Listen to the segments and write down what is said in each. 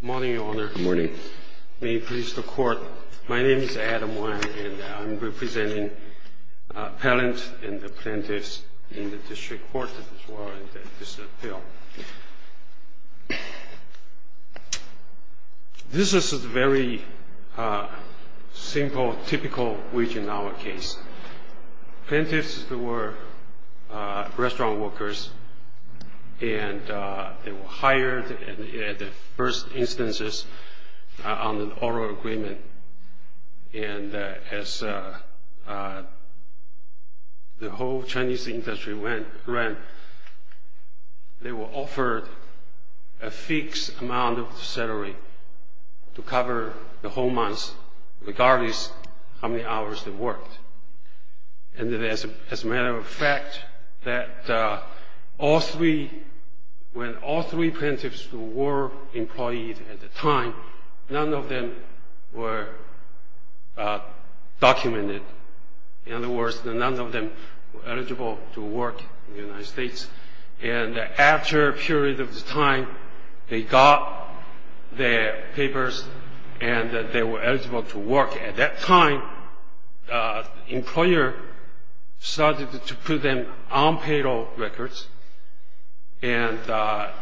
Good morning, Your Honor. Good morning. May it please the Court, my name is Adam Wang and I'm representing appellants and the plaintiffs in the District Court as well as the District Appeal. This is a very simple, typical region in our case. Plaintiffs were restaurant workers and they were hired in the first instances on an oral agreement and as the whole Chinese industry went around, they were offered a fixed amount of salary to cover the whole month regardless of how many hours they worked. And as a matter of fact, when all three plaintiffs were employed at the time, none of them were documented. In other words, none of them were eligible to work in the United States. And after a period of time, they got their papers and they were eligible to work. At that time, the employer started to put them on payroll records and at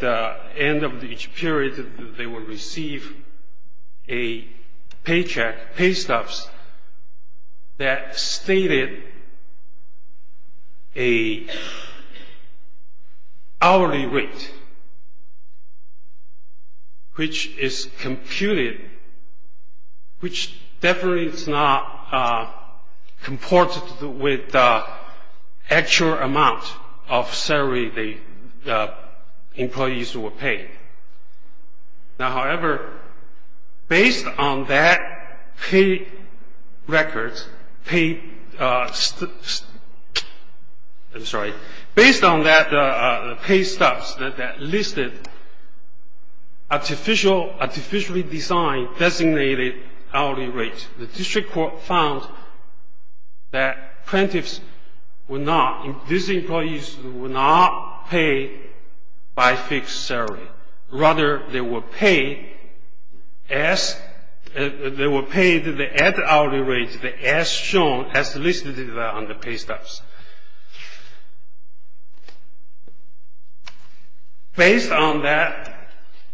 the end of each period, they would receive a paycheck, pay stubs, that stated a hourly rate, which is computed, which definitely is not comported with the actual amount of salary the employees were paid. Now, however, based on that pay records, based on that pay stubs that listed artificially designed designated hourly rates, the district court found that plaintiffs were not, these employees were not paid by fixed salary. Rather, they were paid the added hourly rates as shown, as listed on the pay stubs. Based on that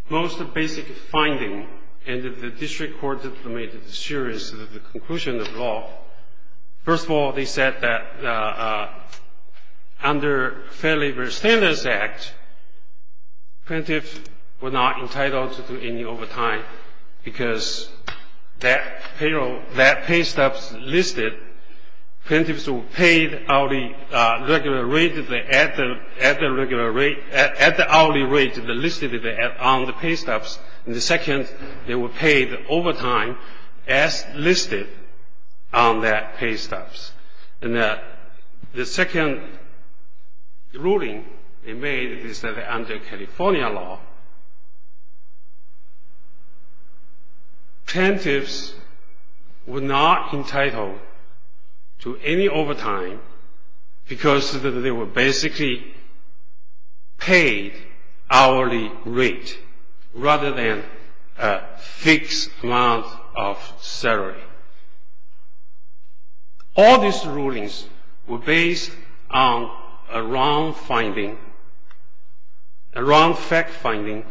most basic finding, and the district court made a series of the conclusion of law, first of all, they said that under Fair Labor Standards Act, plaintiffs were not entitled to do any overtime because that payroll, that pay stubs listed, plaintiffs were paid hourly regular rate at the hourly rate listed on the pay stubs, and the second, they were paid overtime as listed on that pay stubs. And the second ruling they made is that under California law, plaintiffs were not entitled to any overtime because they were basically paid hourly rate, rather than a fixed amount of salary. All these rulings were based on a wrong finding, a wrong fact finding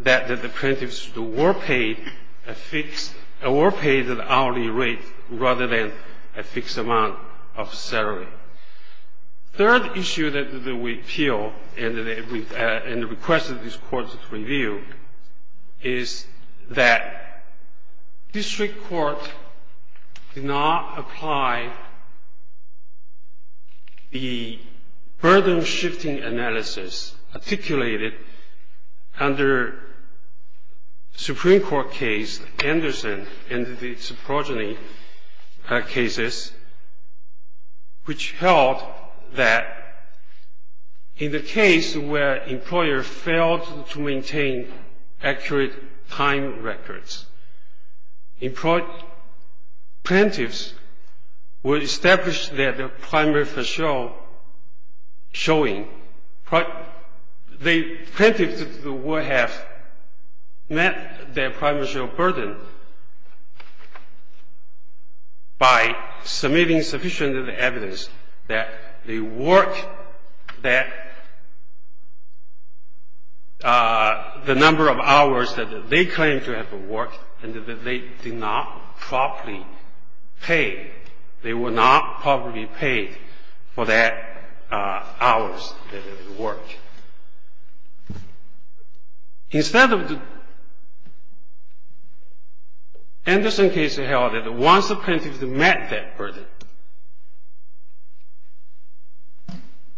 that the plaintiffs were paid a fixed, were paid an hourly rate rather than a fixed amount of salary. Third issue that we appeal and requested this court to review is that district court did not apply the burden-shifting analysis articulated under Supreme Court case, Anderson and the Suprogeny cases, which held that in the case where employer failed to maintain accurate time records, plaintiffs were established that the primary facial showing, the plaintiffs would have met their primary facial burden by submitting sufficient evidence that the work, that the number of hours that they claimed to have worked and that they did not properly pay, they were not properly paid for that hours that they worked. Instead of the, Anderson case held that once the plaintiffs met that burden,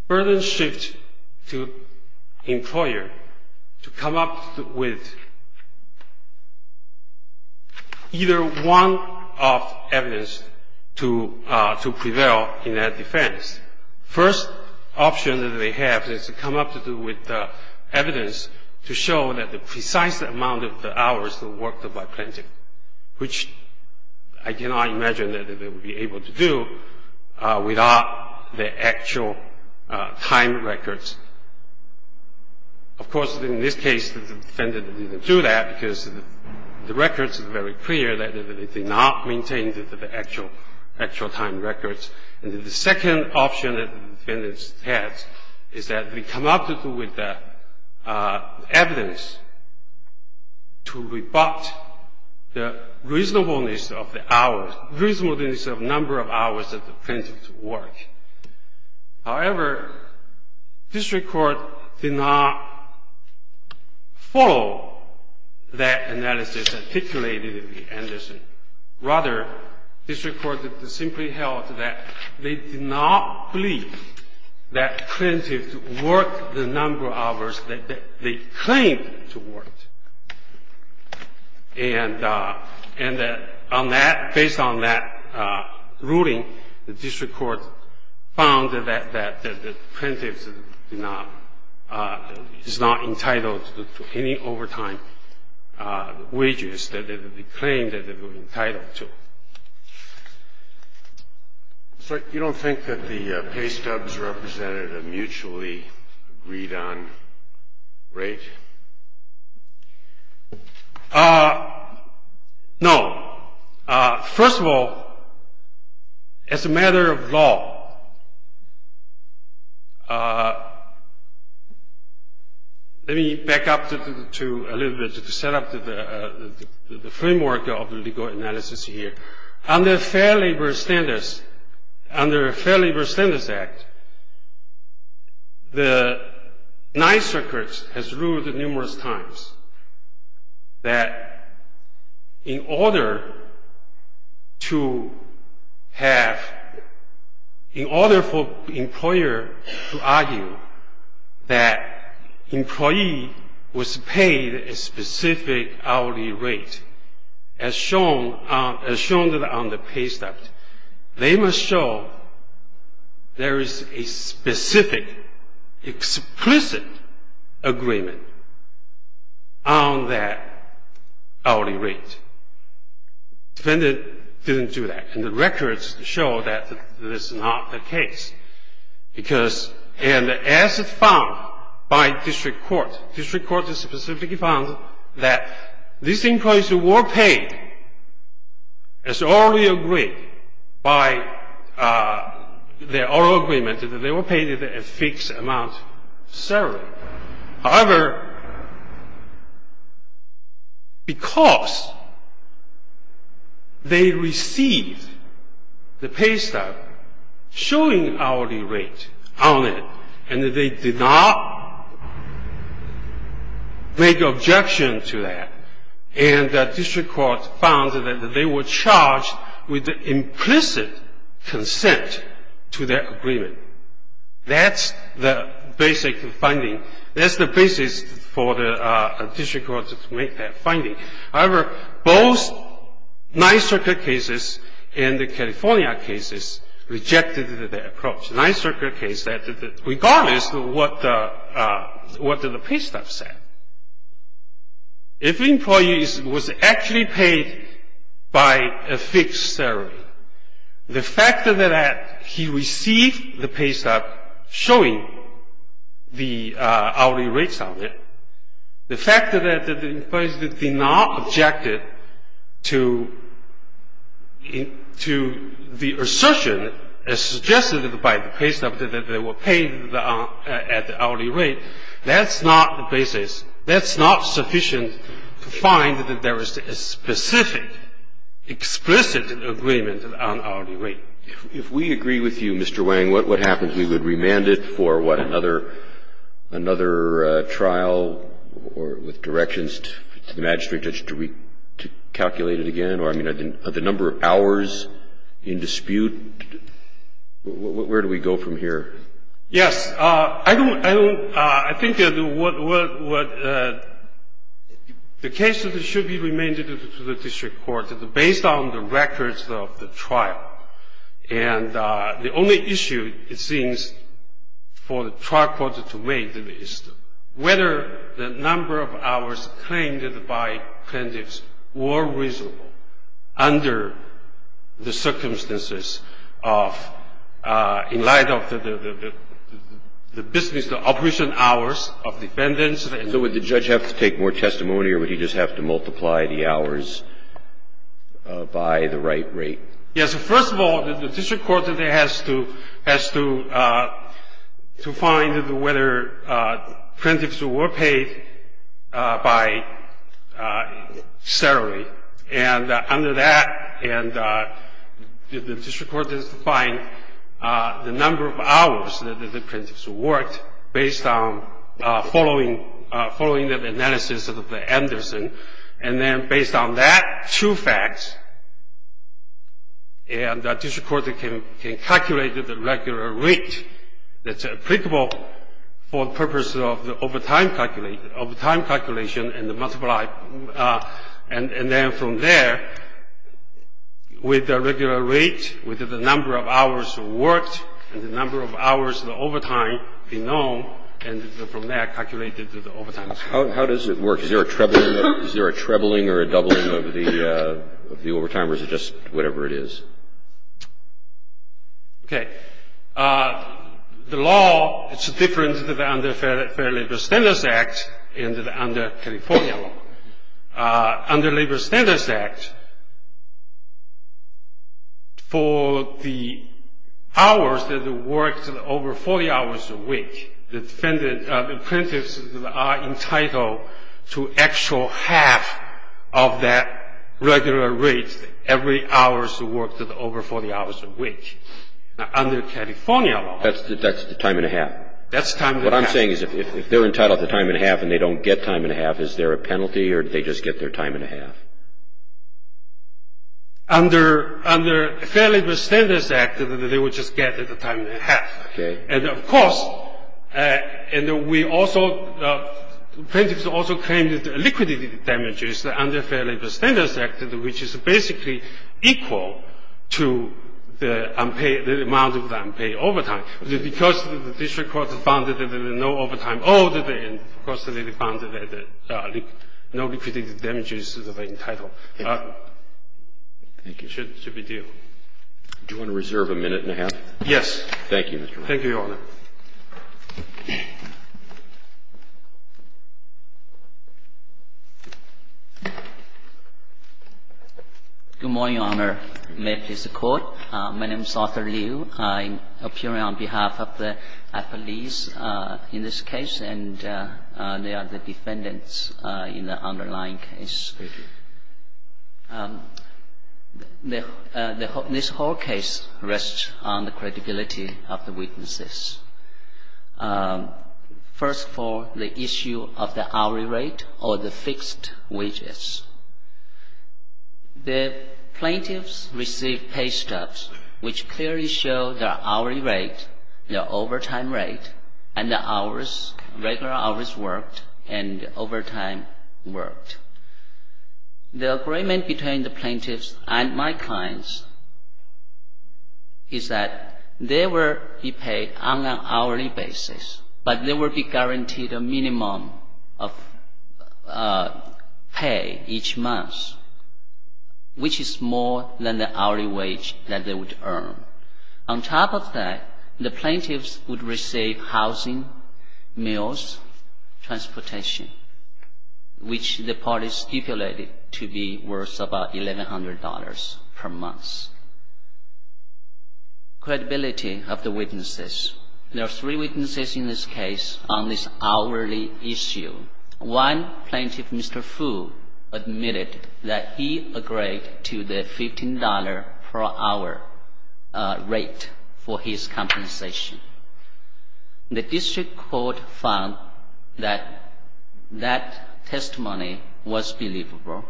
burden shift to employer to come up with either one of evidence to prevail in that defense. First option that they have is to come up to do with evidence to show that the precise amount of the hours that worked by plaintiff, which I cannot imagine that they would be able to do without the actual time records. Of course, in this case, the defendant didn't do that because the records are very clear that they did not maintain the actual time records. And the second option that the defendant has is that they come up to do with evidence to rebut the reasonableness of the hours, reasonableness of number of hours that the plaintiffs worked. However, district court did not follow that analysis articulated in the Anderson. Rather, district court simply held that they did not believe that plaintiffs worked the number of hours that they claimed to work. And on that, based on that ruling, the district court found that the plaintiffs did not, is not entitled to any overtime wages that they claimed that they were entitled to. So you don't think that the pay stubs represented a mutually agreed on rate? No. First of all, as a matter of law, let me back up to a little bit to set up the framework of the legal analysis here. Under Fair Labor Standards Act, the ninth circuit has ruled numerous times that in order to have, in order for employer to argue that employee was paid a specific hourly rate as shown on the pay stub, they must show there is a specific, explicit agreement on that hourly rate. Defendant didn't do that. And the records show that this is not the case. Because, and as found by district court, district court specifically found that this increase were paid as already agreed by the oral agreement, that they were paid a fixed amount of salary. However, because they received the pay stub showing hourly rate on it and they did not make objection to that, and district court found that they were charged with implicit consent to their agreement. That's the basic finding. That's the basis for the district court to make that finding. However, both ninth circuit cases and the California cases rejected that approach. Ninth circuit case said that regardless of what the pay stub said, if employee was actually paid by a fixed salary, the fact that he received the pay stub showing the hourly rates on it, the fact that the employees did not object to the assertion as suggested by the pay stub that they were paid at the hourly rate, that's not the basis. That's not sufficient to find that there is a specific, explicit agreement on hourly rate. If we agree with you, Mr. Wang, what happens? We would remand it for, what, another trial with directions to the magistrate judge to recalculate it again? Or, I mean, are the number of hours in dispute? Where do we go from here? Yes. I don't think that the case should be remanded to the district court. Based on the records of the trial, and the only issue it seems for the trial court to weigh, is whether the number of hours claimed by plaintiffs were reasonable under the circumstances of in light of the business, the operation hours of defendants. So would the judge have to take more testimony, or would he just have to multiply the hours by the right rate? Yes. First of all, the district court has to find whether plaintiffs were paid by salary. And under that, the district court has to find the number of hours that the plaintiffs worked based on following the analysis of the Anderson. And then based on that, true facts, and the district court can calculate the regular rate that's applicable for the purpose of the overtime calculation and the multiply. And then from there, with the regular rate, with the number of hours worked, and the number of hours of overtime being known, and from there calculated the overtime. How does it work? Is there a trebling or a doubling of the overtime, or is it just whatever it is? Okay. The law, it's different than under Fair Labor Standards Act and under California law. Under Labor Standards Act, for the hours that are worked over 40 hours a week, the plaintiffs are entitled to actual half of that regular rate every hours worked over 40 hours a week. Now, under California law. That's the time and a half. That's time and a half. What I'm saying is if they're entitled to time and a half and they don't get time and a half, is there a penalty or do they just get their time and a half? Under Fair Labor Standards Act, they would just get the time and a half. Okay. And, of course, and we also, plaintiffs also claim that liquidity damages under Fair Labor Standards Act, which is basically equal to the amount of the unpaid overtime, because the district court has found that there is no overtime. Oh, and, of course, they found that no liquidity damages are entitled. Thank you. It should be due. Do you want to reserve a minute and a half? Yes. Thank you, Mr. Wright. Thank you, Your Honor. Good morning, Your Honor. May it please the Court. My name is Arthur Liu. I'm appearing on behalf of the appellees in this case, and they are the defendants in the underlying case. Thank you. This whole case rests on the credibility of the witnesses. First for the issue of the hourly rate or the fixed wages. The plaintiffs received pay stubs, which clearly show their hourly rate, their overtime rate, and the hours, regular hours worked, and overtime worked. The agreement between the plaintiffs and my clients is that they will be paid on an hourly basis, but they will be guaranteed a minimum of pay each month, which is more than the hourly wage that they would earn. On top of that, the plaintiffs would receive housing, meals, transportation, which the parties stipulated to be worth about $1,100 per month. Credibility of the witnesses. There are three witnesses in this case on this hourly issue. One plaintiff, Mr. Fu, admitted that he agreed to the $15 per hour rate for his compensation. The district court found that that testimony was believable.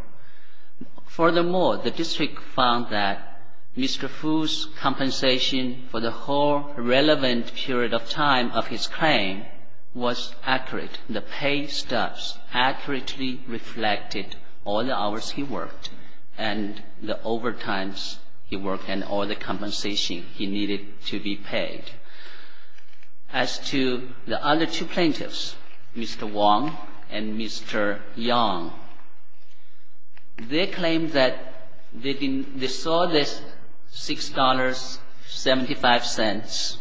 Furthermore, the district found that Mr. Fu's compensation for the whole relevant period of time of his claim was accurate. The pay stubs accurately reflected all the hours he worked and the overtimes he worked and all the compensation he needed to be paid. As to the other two plaintiffs, Mr. Wong and Mr. Yang, they claim that they saw this $6.75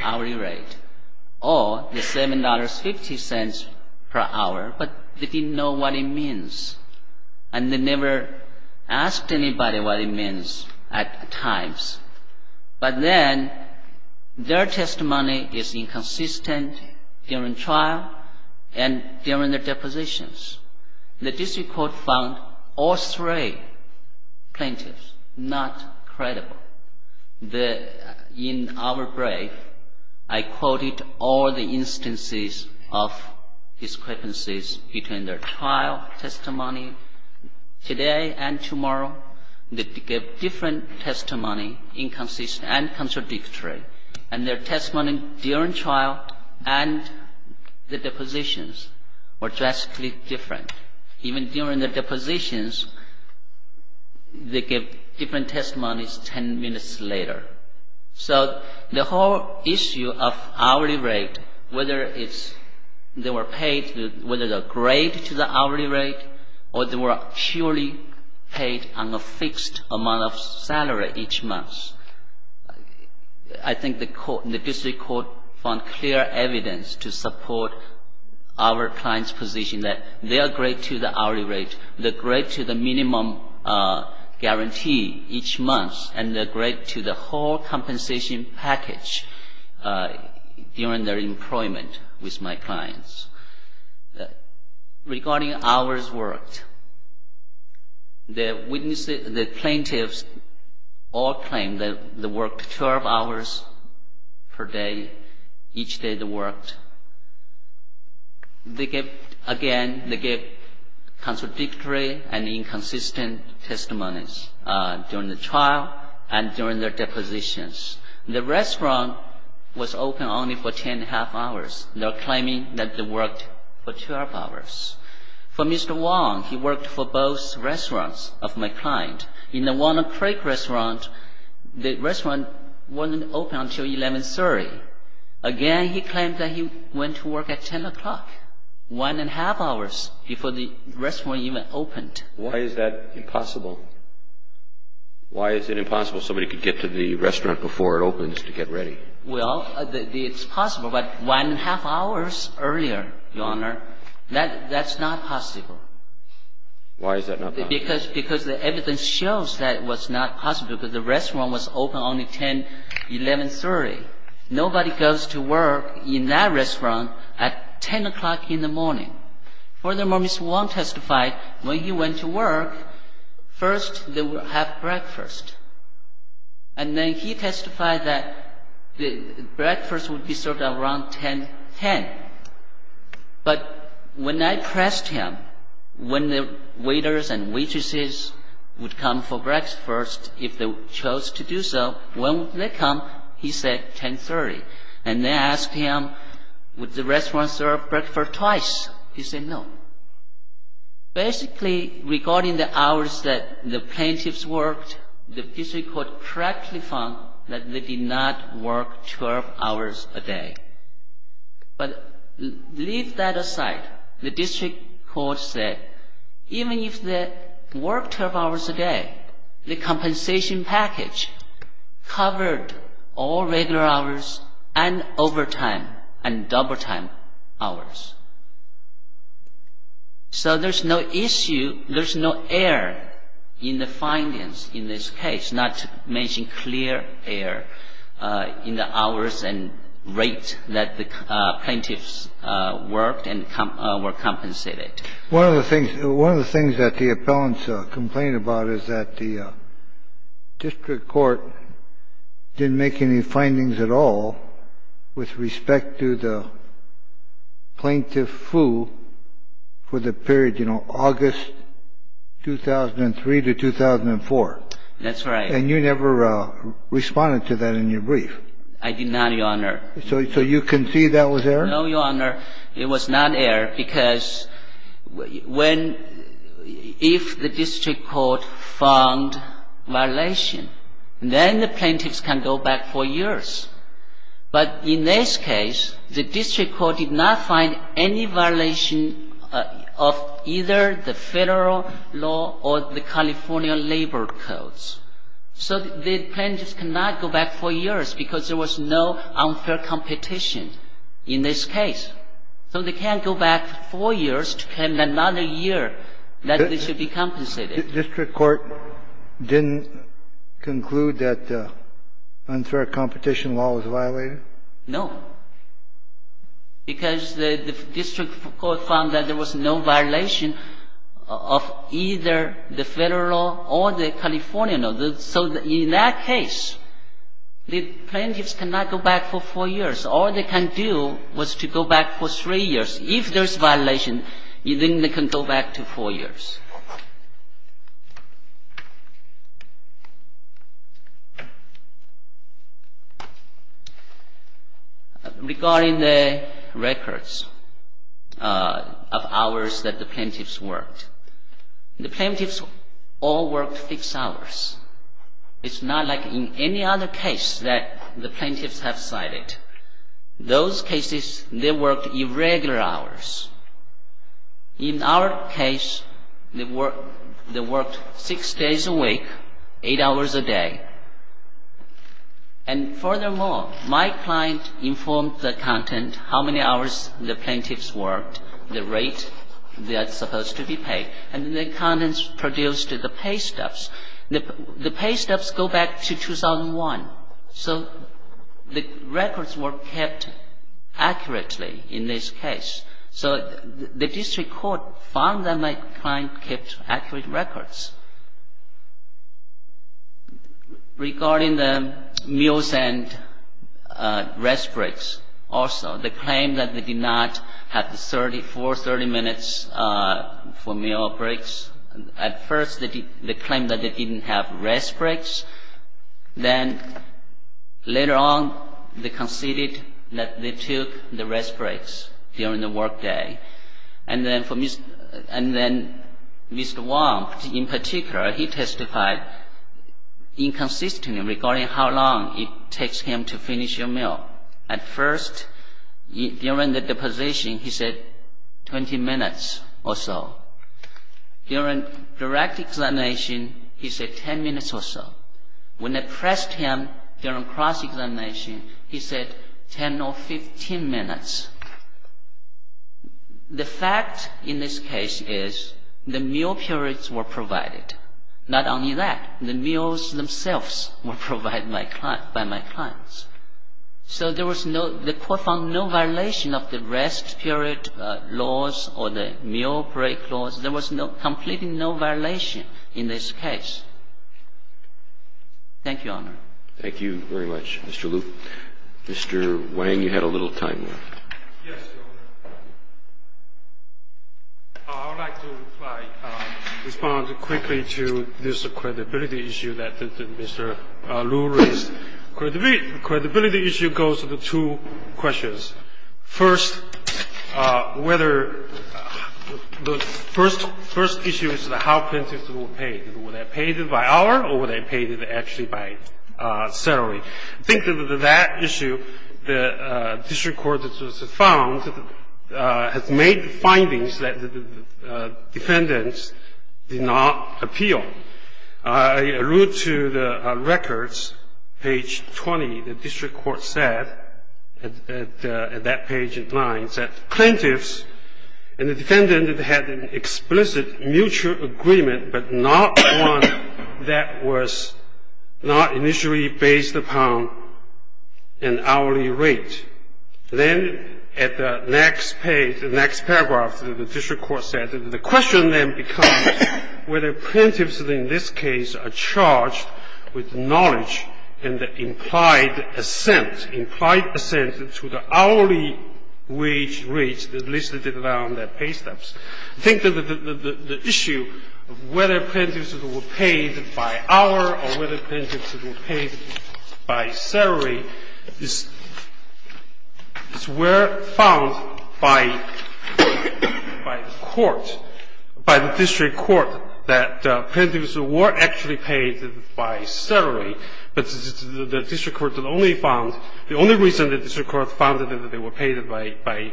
hourly rate or the $7.50 per hour, but they didn't know what it means. And they never asked anybody what it means at times. But then, their testimony is inconsistent during trial and during the depositions. The district court found all three plaintiffs not credible. In our brief, I quoted all the instances of discrepancies between their trial testimony today and tomorrow. They gave different testimony, inconsistent and contradictory. And their testimony during trial and the depositions were drastically different. Even during the depositions, they gave different testimonies 10 minutes later. So the whole issue of hourly rate, whether it's they were paid, whether they're great to the hourly rate or they were purely paid on a fixed amount of salary each month, I think the district court found clear evidence to support our client's position that they are great to the hourly rate, they're great to the minimum guarantee each month, and they're great to the whole compensation package during their employment with my clients. Regarding hours worked, the plaintiffs all claimed that they worked 12 hours per day. Each day they worked. Again, they gave contradictory and inconsistent testimonies during the trial and during their depositions. The restaurant was open only for 10.5 hours. They're claiming that they worked for 12 hours. For Mr. Wong, he worked for both restaurants of my client. In the Walnut Creek restaurant, the restaurant wasn't open until 11.30. Again, he claimed that he went to work at 10 o'clock, 1.5 hours before the restaurant even opened. Why is that impossible? Why is it impossible somebody could get to the restaurant before it opens to get ready? Well, it's possible, but 1.5 hours earlier, Your Honor, that's not possible. Why is that not possible? Because the evidence shows that it was not possible because the restaurant was open only 10, 11.30. Nobody goes to work in that restaurant at 10 o'clock in the morning. Furthermore, Mr. Wong testified when he went to work, first they would have breakfast. And then he testified that breakfast would be served around 10.10. But when I pressed him when the waiters and waitresses would come for breakfast first, if they chose to do so, when would they come, he said 10.30. And they asked him, would the restaurant serve breakfast twice? He said no. Basically, regarding the hours that the plaintiffs worked, the district court correctly found that they did not work 12 hours a day. But leave that aside. The district court said even if they worked 12 hours a day, the compensation package covered all regular hours and overtime and double time hours. So there's no issue, there's no error in the findings in this case, not to mention clear error in the hours and rate that the plaintiffs worked and were compensated. One of the things that the appellants complained about is that the district court didn't make any findings at all with respect to the plaintiff Fu for the period, you know, August 2003 to 2004. That's right. And you never responded to that in your brief. I did not, Your Honor. So you concede that was error? No, Your Honor. It was not error because when, if the district court found violation, then the plaintiffs can go back four years. But in this case, the district court did not find any violation of either the Federal law or the California labor codes. So the plaintiffs cannot go back four years because there was no unfair competition in this case. So they can't go back four years to claim another year that they should be compensated. The district court didn't conclude that unfair competition law was violated? No, because the district court found that there was no violation of either the Federal law or the California law. So in that case, the plaintiffs cannot go back for four years. All they can do was to go back for three years. If there's violation, then they can go back to four years. Regarding the records of hours that the plaintiffs worked, the plaintiffs all worked fixed hours. It's not like in any other case that the plaintiffs have cited. Those cases, they worked irregular hours. They worked six days a week, eight hours a day. And furthermore, my client informed the accountant how many hours the plaintiffs worked, the rate that's supposed to be paid. And the accountant produced the paystubs. The paystubs go back to 2001. So the records were kept accurately in this case. So the district court found that my client kept accurate records. Regarding the meals and rest breaks also, they claimed that they did not have the 34, 30 minutes for meal breaks. At first, they claimed that they didn't have rest breaks. Then later on, they conceded that they took the rest breaks during the work day. And then Mr. Wong, in particular, he testified inconsistently regarding how long it takes him to finish your meal. At first, during the deposition, he said 20 minutes or so. During direct examination, he said 10 minutes or so. When they pressed him during cross-examination, he said 10 or 15 minutes. The fact in this case is the meal periods were provided. Not only that, the meals themselves were provided by my clients. So there was no – the court found no violation of the rest period laws or the meal break laws. There was no – completely no violation in this case. Thank you, Your Honor. Thank you very much, Mr. Lu. Mr. Wang, you had a little time left. Yes, Your Honor. I would like to reply – respond quickly to this credibility issue that Mr. Lu raised. The credibility issue goes to the two questions. First, whether – the first issue is how plaintiffs were paid. Were they paid by hour or were they paid actually by salary? I think that with that issue, the district court that was found has made findings that the defendants did not appeal. I allude to the records, page 20. The district court said at that page in line that plaintiffs and the defendant had an explicit mutual agreement, but not one that was not initially based upon an hourly rate. Then at the next page, the next paragraph, the district court said, The question then becomes whether plaintiffs in this case are charged with knowledge and implied assent, implied assent to the hourly wage rates that listed there on the pay stubs. I think that the issue of whether plaintiffs were paid by hour or whether plaintiffs were actually paid by salary, but the district court only found – the only reason the district court found that they were paid by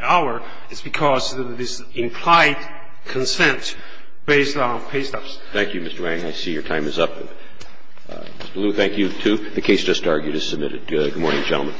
hour is because of this implied consent based on pay stubs. Thank you, Mr. Wang. I see your time is up. Mr. Lu, thank you, too. Good morning, gentlemen.